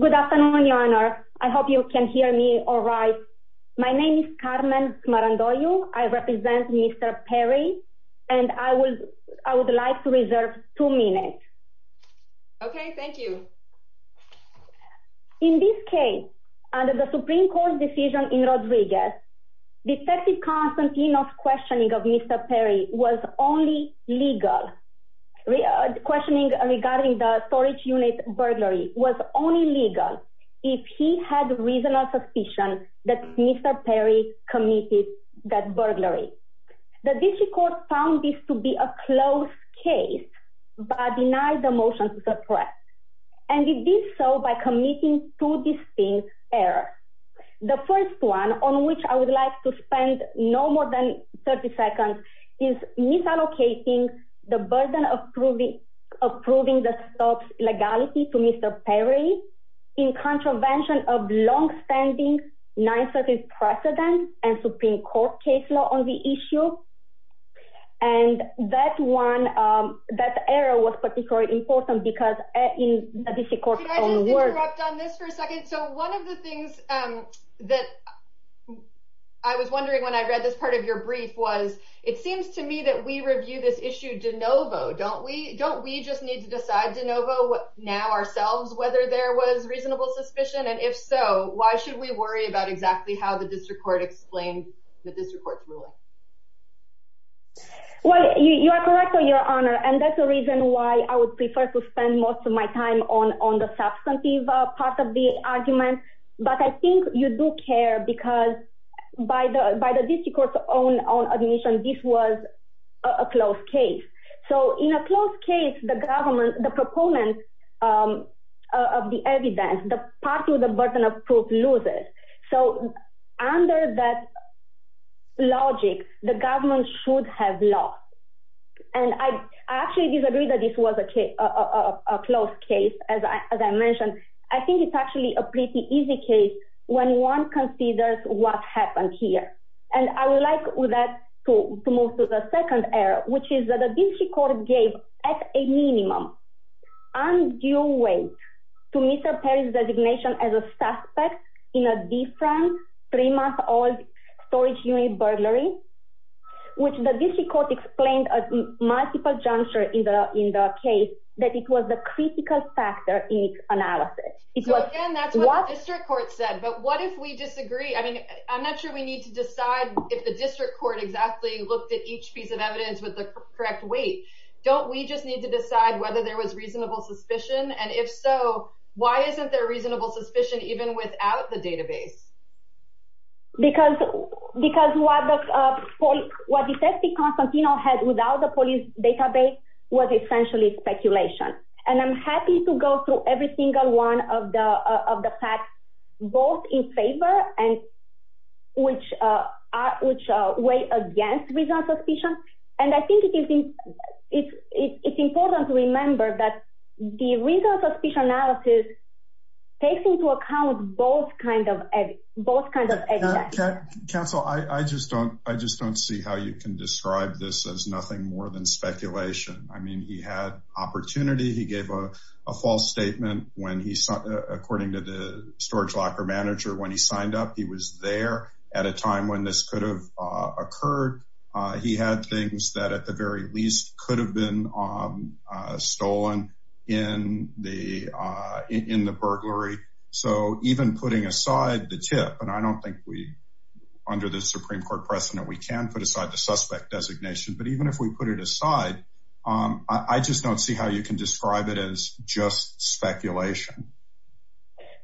Good afternoon, Your Honor. I hope you can hear me all right. My name is Carmen Smarandoyo. I represent Mr. Perry, and I would like to reserve two minutes. Okay, thank you. In this case, under the Supreme Court decision in Rodriguez, Detective Constantine's questioning of Mr. Perry was only legal. Questioning regarding the storage unit burglary was only legal if he had reasonable suspicion that Mr. Perry committed that burglary. The D.C. Court found this to be a closed case but denied the motion to suppress, and it did so by committing two distinct errors. The first one, on which I would like to spend no more than 30 seconds, is misallocating the burden of approving the stops legality to Mr. Perry in contravention of longstanding 930 precedent and Supreme Court case law on the issue. And that one, that error was particularly important because in the D.C. Court's own words— I was wondering when I read this part of your brief was, it seems to me that we review this issue de novo, don't we? Don't we just need to decide de novo now ourselves whether there was reasonable suspicion? And if so, why should we worry about exactly how the District Court explained the District Court's ruling? Well, you are correct, Your Honor, and that's the reason why I would prefer to spend most of my time on the substantive part of the argument. But I think you do care because by the District Court's own admission, this was a closed case. So in a closed case, the proponent of the evidence, the party with the burden of proof, loses. So under that logic, the government should have lost. And I actually disagree that this was a closed case, as I mentioned. I think it's actually a pretty easy case when one considers what happened here. And I would like to move to the second error, which is that the D.C. Court gave at a minimum undue weight to Mr. Perry's designation as a suspect in a different three-month-old storage unit burglary, which the D.C. Court explained at multiple junctures in the case that it was the critical factor in its analysis. So again, that's what the District Court said, but what if we disagree? I mean, I'm not sure we need to decide if the District Court exactly looked at each piece of evidence with the correct weight. Don't we just need to decide whether there was reasonable suspicion? And if so, why isn't there reasonable suspicion even without the database? Because what Detective Constantino had without the police database was essentially speculation. And I'm happy to go through every single one of the facts, both in favor and which way against reasonable suspicion. And I think it's important to remember that the reasonable suspicion analysis takes into account both kinds of evidence. Counsel, I just don't see how you can describe this as nothing more than speculation. I mean, he had opportunity. He gave a false statement when he, according to the storage locker manager, when he signed up, he was there at a time when this could have occurred. He had things that at the very least could have been stolen in the burglary. So even putting aside the tip, and I don't think we, under the Supreme Court precedent, we can put aside the suspect designation. But even if we put it aside, I just don't see how you can describe it as just speculation.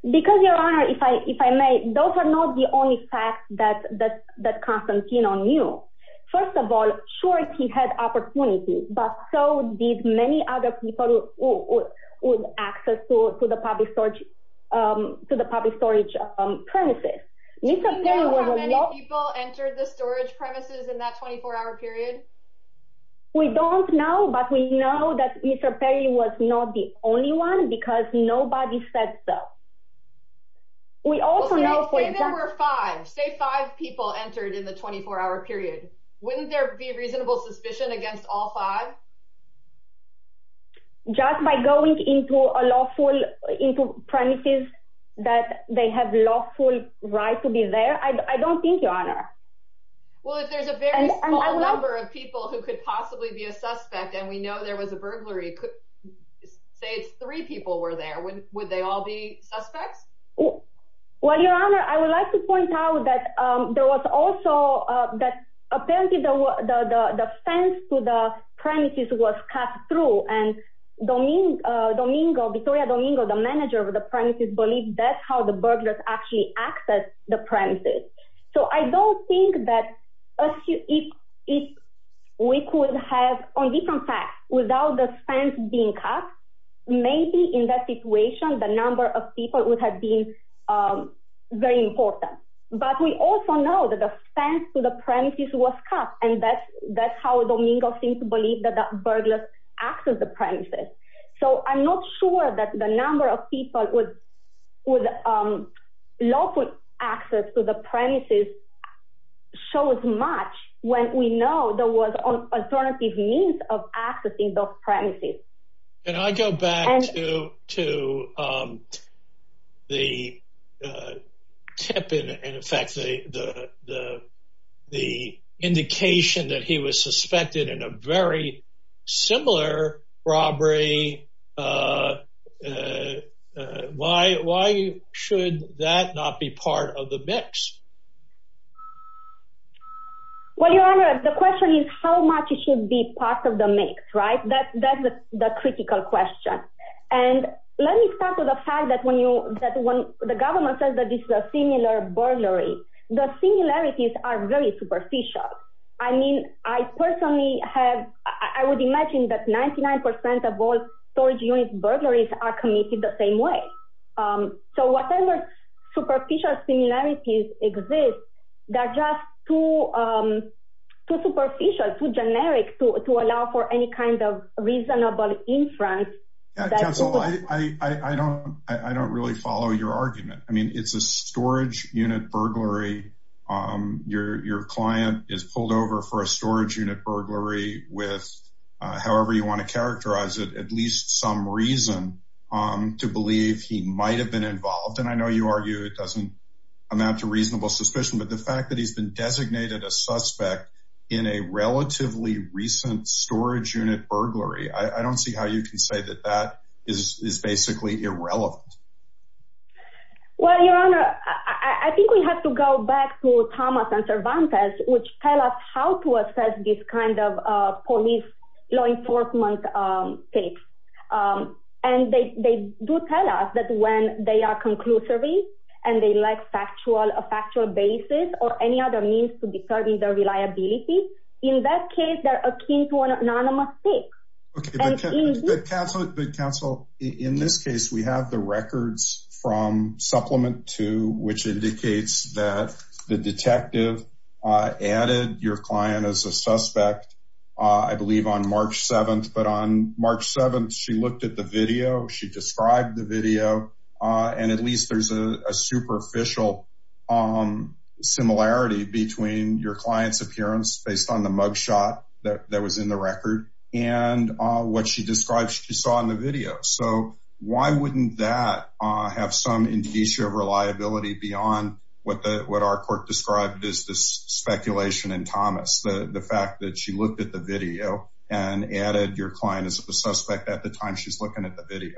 Because, Your Honor, if I may, those are not the only facts that Constantino knew. First of all, sure, he had opportunity, but so did many other people with access to the public storage premises. Do we know how many people entered the storage premises in that 24-hour period? We don't know, but we know that Mr. Perry was not the only one, because nobody said so. Say there were five. Say five people entered in the 24-hour period. Wouldn't there be reasonable suspicion against all five? Just by going into premises that they have lawful right to be there, I don't think, Your Honor. Well, if there's a very small number of people who could possibly be a suspect, and we know there was a burglary, say it's three people were there, would they all be suspects? Well, Your Honor, I would like to point out that apparently the fence to the premises was cut through, and Victoria Domingo, the manager of the premises, believes that's how the burglars actually accessed the premises. So I don't think that if we could have, on different facts, without the fence being cut, maybe in that situation the number of people would have been very important. But we also know that the fence to the premises was cut, and that's how Domingo seems to believe that the burglars accessed the premises. So I'm not sure that the number of people with lawful access to the premises shows much when we know there was alternative means of accessing those premises. And I go back to the tip, in effect, the indication that he was suspected in a very similar robbery. Why should that not be part of the mix? Well, Your Honor, the question is how much should be part of the mix, right? That's the critical question. And let me start with the fact that when the government says that this is a similar burglary, the similarities are very superficial. I mean, I personally have, I would imagine that 99% of all storage unit burglaries are committed the same way. So whatever superficial similarities exist, they're just too superficial, too generic to allow for any kind of reasonable inference. Counsel, I don't really follow your argument. I mean, it's a storage unit burglary. Your client is pulled over for a storage unit burglary with, however you want to characterize it, at least some reason to believe he might have been involved. And I know you argue it doesn't amount to reasonable suspicion. But the fact that he's been designated a suspect in a relatively recent storage unit burglary, I don't see how you can say that that is basically irrelevant. Well, Your Honor, I think we have to go back to Thomas and Cervantes, which tell us how to assess this kind of police law enforcement tape. And they do tell us that when they are conclusively and they lack factual basis or any other means to determine their reliability, in that case, they're akin to an anonymous tape. Counsel, in this case, we have the records from Supplement 2, which indicates that the detective added your client as a suspect, I believe, on March 7th. But on March 7th, she looked at the video. She described the video. And at least there's a superficial similarity between your client's appearance based on the mugshot that was in the record. And what she describes she saw in the video. So why wouldn't that have some indication of reliability beyond what our court described as this speculation in Thomas? The fact that she looked at the video and added your client as a suspect at the time she's looking at the video.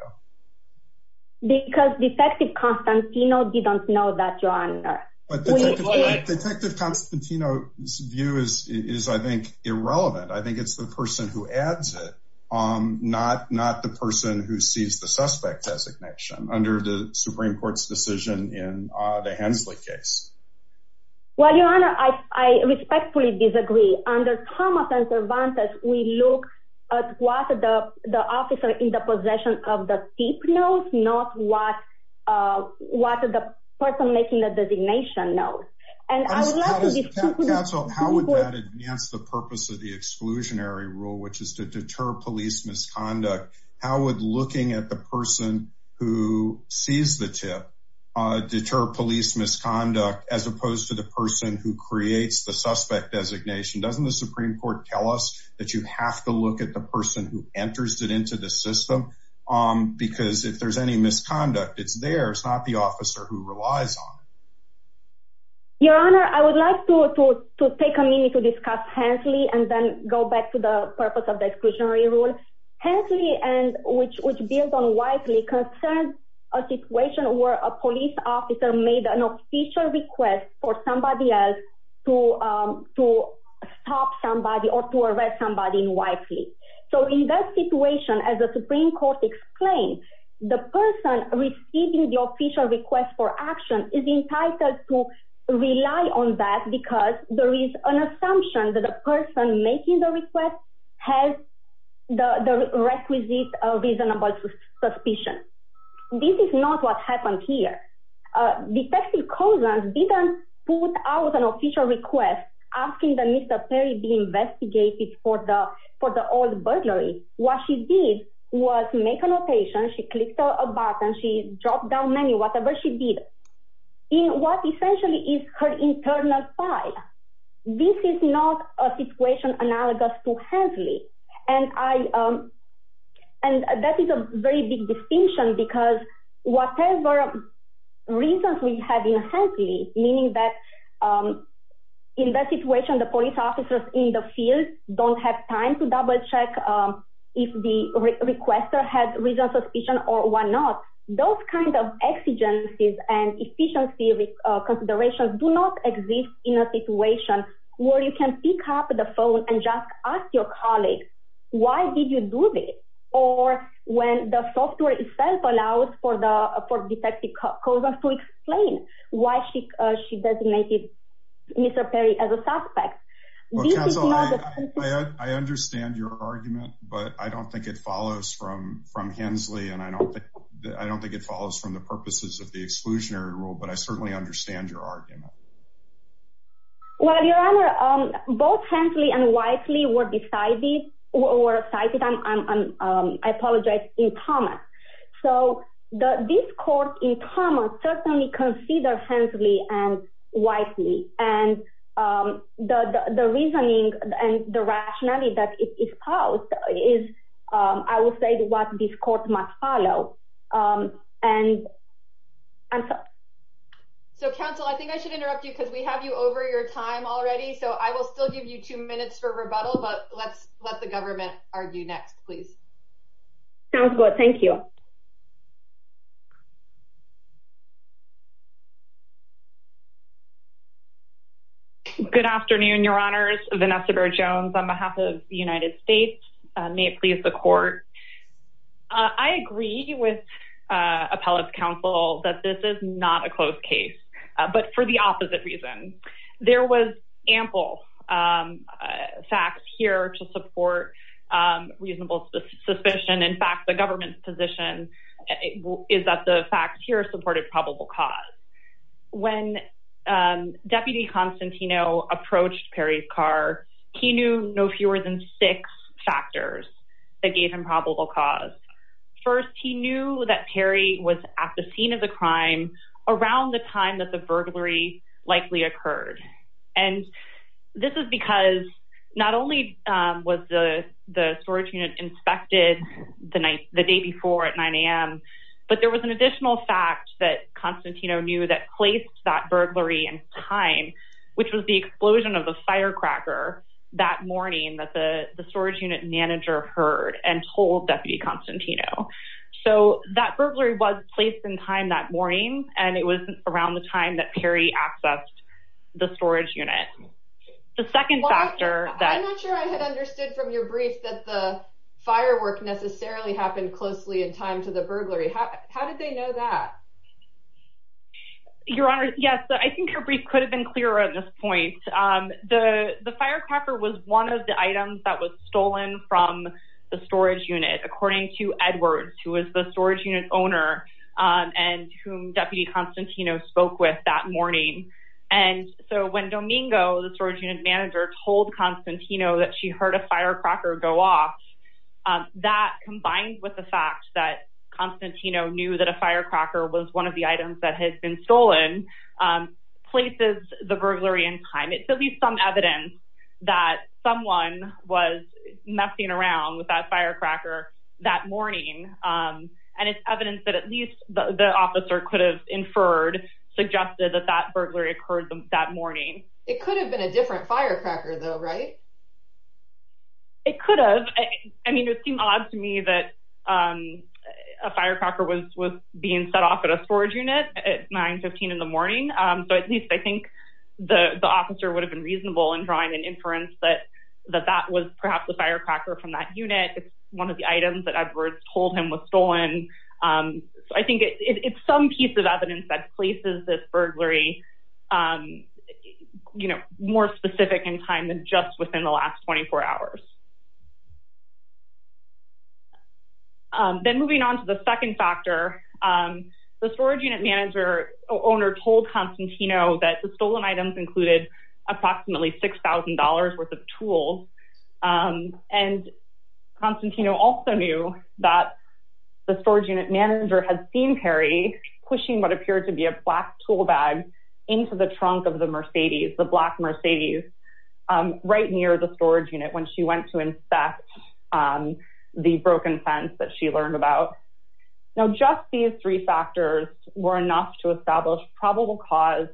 Because Detective Constantino didn't know that, Your Honor. Detective Constantino's view is, I think, irrelevant. I think it's the person who adds it, not the person who sees the suspect designation under the Supreme Court's decision in the Hensley case. Well, Your Honor, I respectfully disagree. Under Thomas and Cervantes, we look at what the officer in the possession of the tape knows, not what the person making the designation knows. Counsel, how would that enhance the purpose of the exclusionary rule, which is to deter police misconduct? How would looking at the person who sees the tip deter police misconduct as opposed to the person who creates the suspect designation? Doesn't the Supreme Court tell us that you have to look at the person who enters it into the system? Because if there's any misconduct, it's theirs, not the officer who relies on it. Your Honor, I would like to take a minute to discuss Hensley and then go back to the purpose of the exclusionary rule. Hensley, which builds on Wisely, concerns a situation where a police officer made an official request for somebody else to stop somebody or to arrest somebody in Wisely. So in that situation, as the Supreme Court explained, the person receiving the official request for action is entitled to rely on that because there is an assumption that the person making the request has the requisite reasonable suspicion. This is not what happened here. Detective Cozans didn't put out an official request asking that Mr. Perry be investigated for the old burglary. What she did was make a notation. She clicked a button. She dropped down menu, whatever she did, in what essentially is her internal file. And that is a very big distinction because whatever reasons we have in Hensley, meaning that in that situation, the police officers in the field don't have time to double check if the requester had reasonable suspicion or why not, those kinds of exigencies and efficiency considerations do not exist in a situation where you can pick up the phone and just ask your colleague, why did you do this? Or when the software itself allows for Detective Cozans to explain why she designated Mr. Perry as a suspect. I understand your argument, but I don't think it follows from from Hensley. And I don't think I don't think it follows from the purposes of the exclusionary rule. But I certainly understand your argument. Well, your honor, both Hensley and wisely were decided or cited. And I apologize in comment. So this court in common certainly consider Hensley and wisely. And the reasoning and the rationality that is how it is. I will say what this court must follow. And I'm sorry. So, counsel, I think I should interrupt you because we have you over your time already. So I will still give you two minutes for rebuttal. But let's let the government argue next, please. Sounds good. Thank you. Good afternoon, your honors. Vanessa Jones on behalf of the United States. May it please the court. I agree with appellate counsel that this is not a close case, but for the opposite reason. There was ample facts here to support reasonable suspicion. In fact, the government's position is that the facts here supported probable cause. When Deputy Constantino approached Perry's car, he knew no fewer than six factors that gave him probable cause. First, he knew that Perry was at the scene of the crime around the time that the burglary likely occurred. And this is because not only was the storage unit inspected the night the day before at 9 a.m., but there was an additional fact that Constantino knew that placed that burglary in time, which was the explosion of the firecracker. That morning that the storage unit manager heard and told Deputy Constantino. So that burglary was placed in time that morning, and it was around the time that Perry accessed the storage unit. The second factor that I'm not sure I had understood from your brief that the firework necessarily happened closely in time to the burglary. How did they know that? Your honor. Yes. I think your brief could have been clearer at this point. The firecracker was one of the items that was stolen from the storage unit, according to Edwards, who was the storage unit owner and whom Deputy Constantino spoke with that morning. And so when Domingo, the storage unit manager, told Constantino that she heard a firecracker go off, that combined with the fact that Constantino knew that a firecracker was one of the items that had been stolen, places the burglary in time. It's at least some evidence that someone was messing around with that firecracker that morning. And it's evidence that at least the officer could have inferred, suggested that that burglary occurred that morning. It could have been a different firecracker though, right? It could have. I mean, it seemed odd to me that a firecracker was being set off at a storage unit at 915 in the morning. So at least I think the officer would have been reasonable in drawing an inference that that was perhaps a firecracker from that unit. It's one of the items that Edwards told him was stolen. So I think it's some piece of evidence that places this burglary more specific in time than just within the last 24 hours. Then moving on to the second factor, the storage unit manager owner told Constantino that the stolen items included approximately $6,000 worth of tools. And Constantino also knew that the storage unit manager had seen Perry pushing what appeared to be a black tool bag into the trunk of the Mercedes, the black Mercedes, right near the storage unit when she went to inspect the broken fence that she learned about. Now just these three factors were enough to establish probable cause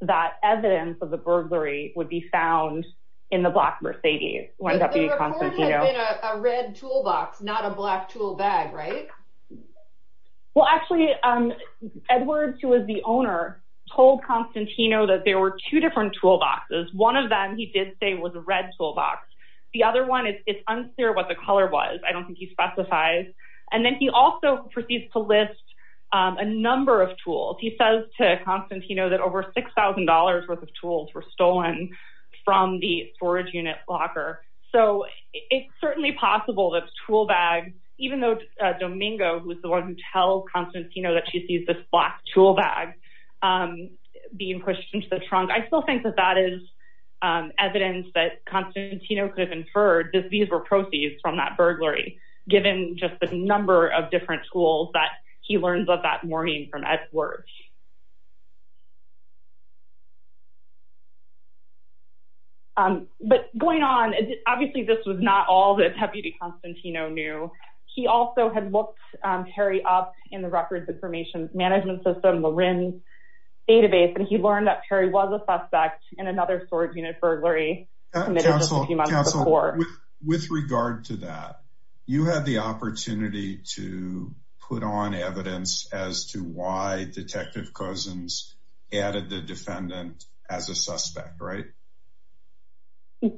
that evidence of the burglary would be found in the black Mercedes. But the recording had been a red toolbox, not a black tool bag, right? Well actually, Edwards, who was the owner, told Constantino that there were two different toolboxes. One of them he did say was a red toolbox. The other one, it's unclear what the color was. I don't think he specifies. He also proceeds to list a number of tools. He says to Constantino that over $6,000 worth of tools were stolen from the storage unit locker. So it's certainly possible that the tool bag, even though Domingo was the one who tells Constantino that she sees this black tool bag being pushed into the trunk, I still think that that is evidence that Constantino could have inferred that these were proceeds from that burglary, given just the number of different tools that he learns of that morning from Edwards. But going on, obviously this was not all that Deputy Constantino knew. He also had looked Perry up in the Records Information Management System, the RIN database, and he learned that Perry was a suspect in another storage unit burglary committed just a few months before. Counsel, with regard to that, you had the opportunity to put on evidence as to why Detective Cousins added the defendant as a suspect, right?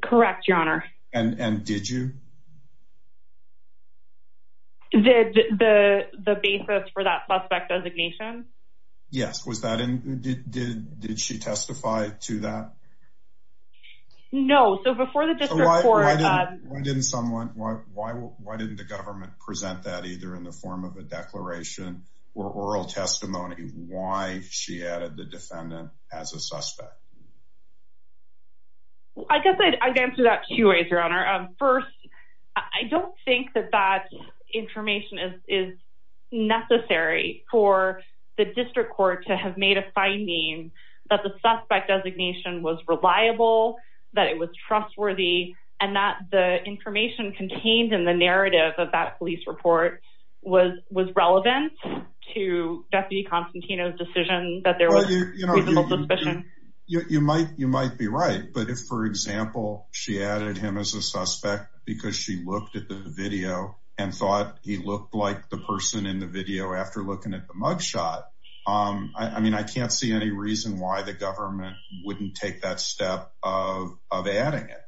Correct, Your Honor. And did you? Did the basis for that suspect designation? Yes. Did she testify to that? No. So before the district court... Why didn't the government present that either in the form of a declaration or oral testimony, why she added the defendant as a suspect? I guess I'd answer that two ways, Your Honor. First, I don't think that that information is necessary for the district court to have made a finding that the suspect designation was reliable, that it was trustworthy, and that the information contained in the narrative of that police report was relevant to Deputy Constantino's decision that there was a reasonable suspicion. You might be right, but if, for example, she added him as a suspect because she looked at the video and thought he looked like the person in the video after looking at the mugshot, I mean, I can't see any reason why the government wouldn't take that step of adding it.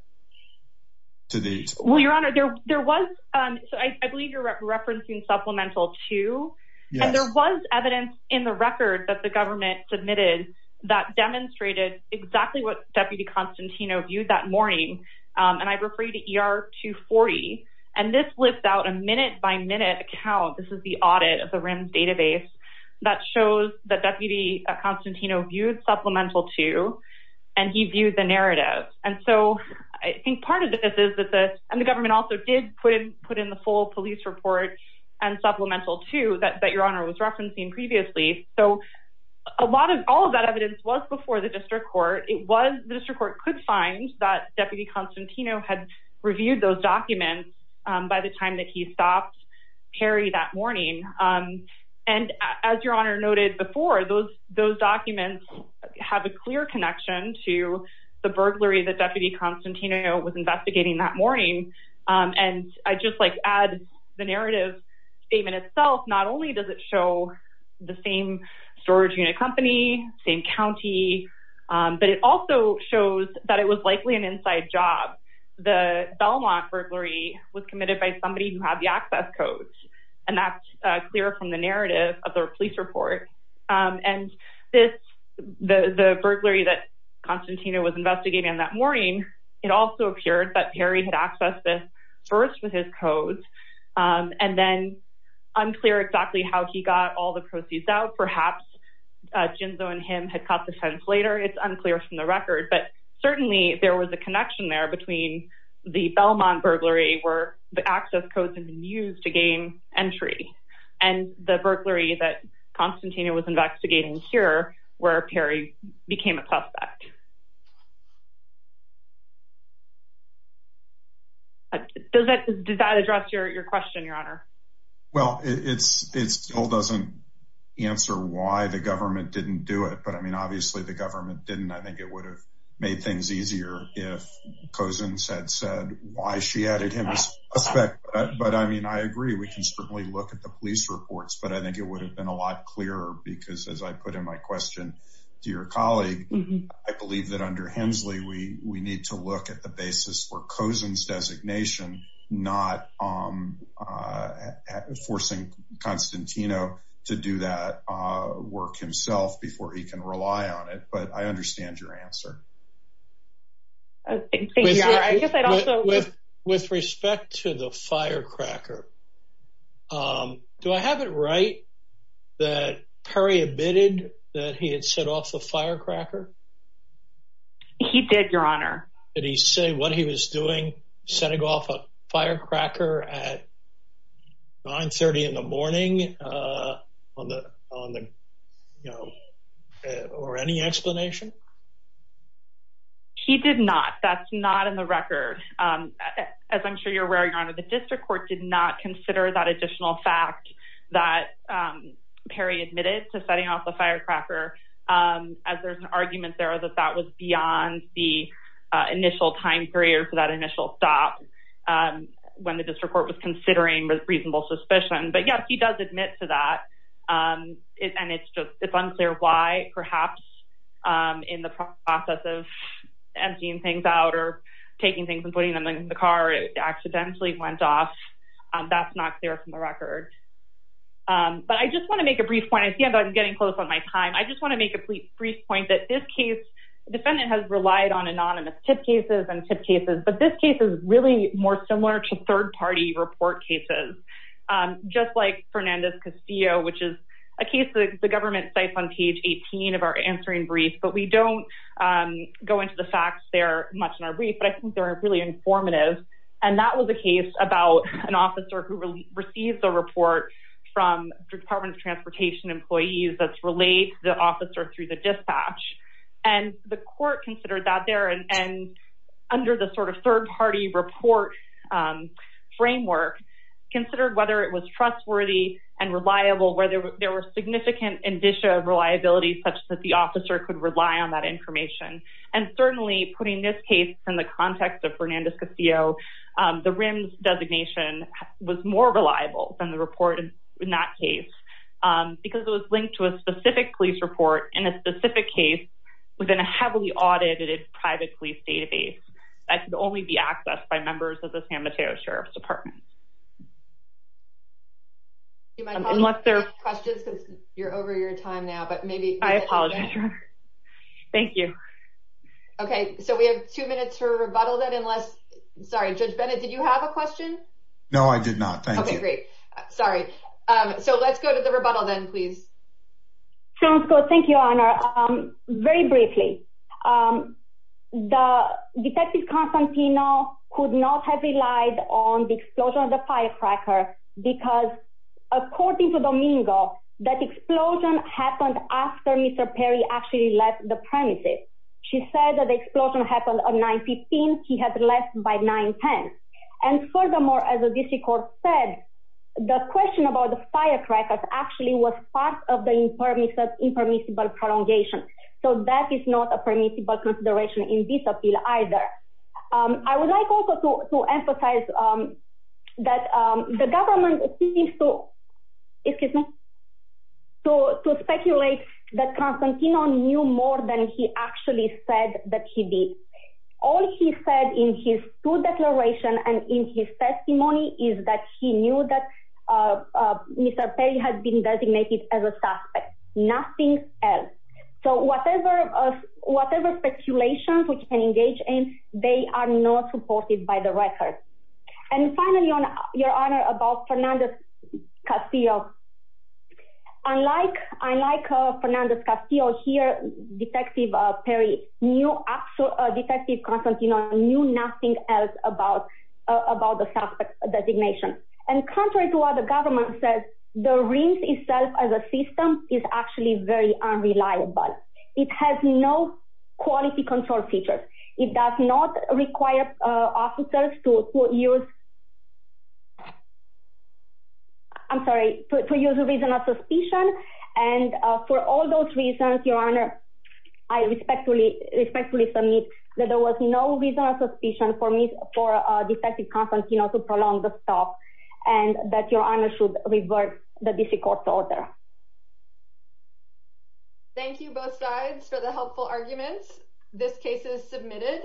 Well, Your Honor, there was, I believe you're referencing Supplemental 2, and there was evidence in the record that the government submitted that demonstrated exactly what Deputy Constantino viewed that morning, and I refer you to ER 240, and this lists out a minute-by-minute account, this is the audit of the RIMS database, that shows that Deputy Constantino viewed Supplemental 2, and he viewed the narrative. And so I think part of this is that the, and the government also did put in the full police report and Supplemental 2 that Your Honor was referencing previously, so a lot of, all of that evidence was before the district court. It was, the district court could find that Deputy Constantino had reviewed those documents by the time that he stopped Perry that morning, and as Your Honor noted before, those documents have a clear connection to the burglary that Deputy Constantino was investigating that morning. And I just like add the narrative statement itself, not only does it show the same storage unit company, same county, but it also shows that it was likely an inside job. The Belmont burglary was committed by somebody who had the access codes, and that's clear from the narrative of the police report. And this, the burglary that Constantino was investigating that morning, it also appeared that Perry had accessed this first with his codes, and then unclear exactly how he got all the proceeds out. Perhaps Ginzo and him had caught the fence later, it's unclear from the record, but certainly there was a connection there between the Belmont burglary, where the access codes had been used to gain entry, and the burglary that Constantino was investigating here, where Perry became a suspect. Does that address your question, Your Honor? Well, it still doesn't answer why the government didn't do it. But I mean, obviously, the government didn't, I think it would have made things easier if Cousins had said why she added him as a suspect. But I mean, I agree, we can certainly look at the police reports, but I think it would have been a lot clearer because as I put in my question to your colleague, I believe that under Hensley, we need to look at the basis for Cousins designation, not forcing Constantino to do that work himself before he can rely on it. But I understand your answer. With respect to the firecracker, do I have it right that Perry admitted that he had set off a firecracker? He did, Your Honor. Did he say what he was doing, setting off a firecracker at 930 in the morning, or any explanation? He did not. That's not in the record. As I'm sure you're aware, Your Honor, the district court did not consider that additional fact that Perry admitted to setting off a firecracker. As there's an argument there that that was beyond the initial time period for that initial stop when the district court was considering reasonable suspicion. But yes, he does admit to that. And it's unclear why, perhaps in the process of emptying things out or taking things and putting them in the car, it accidentally went off. That's not clear from the record. But I just want to make a brief point. I see I'm getting close on my time. I just want to make a brief point that this case, the defendant has relied on anonymous tip cases and tip cases. But this case is really more similar to third-party report cases, just like Fernandez Castillo, which is a case that the government cites on page 18 of our answering brief. But we don't go into the facts there much in our brief, but I think they're really informative. And that was a case about an officer who received the report from the Department of Transportation employees that's relayed to the officer through the dispatch. And the court considered that there and under the sort of third-party report framework, considered whether it was trustworthy and reliable, whether there were significant indicia of reliability such that the officer could rely on that information. And certainly, putting this case in the context of Fernandez Castillo, the RIMS designation was more reliable than the report in that case because it was linked to a specific police report in a specific case within a heavily audited private police database that could only be accessed by members of the San Mateo Sheriff's Department. Unless there are questions, because you're over your time now. But maybe I apologize. Thank you. OK, so we have two minutes for rebuttal that unless sorry, Judge Bennett, did you have a question? No, I did not. Thank you. Great. Sorry. So let's go to the rebuttal then, please. Sounds good. Thank you, Your Honor. Very briefly, Detective Constantino could not have relied on the explosion of the firecracker because, according to Domingo, that explosion happened after Mr. Perry actually left the premises. She said that the explosion happened on 9-15. He had left by 9-10. And furthermore, as the district court said, the question about the firecrackers actually was part of the impermissible prolongation. So that is not a permissible consideration in this appeal either. I would like also to emphasize that the government seems to speculate that Constantino knew more than he actually said that he did. All he said in his two declarations and in his testimony is that he knew that Mr. Perry had been designated as a suspect. Nothing else. So whatever speculations we can engage in, they are not supported by the record. And finally, Your Honor, about Fernandez-Castillo. Unlike Fernandez-Castillo here, Detective Perry knew, Detective Constantino knew nothing else about the suspect's designation. And contrary to what the government says, the RIMS itself as a system is actually very unreliable. It has no quality control features. It does not require officers to use—I'm sorry, to use a reason of suspicion. And for all those reasons, Your Honor, I respectfully submit that there was no reason of suspicion for Detective Constantino to prolong the stop and that Your Honor should revert the district court's order. Thank you both sides for the helpful arguments. This case is submitted.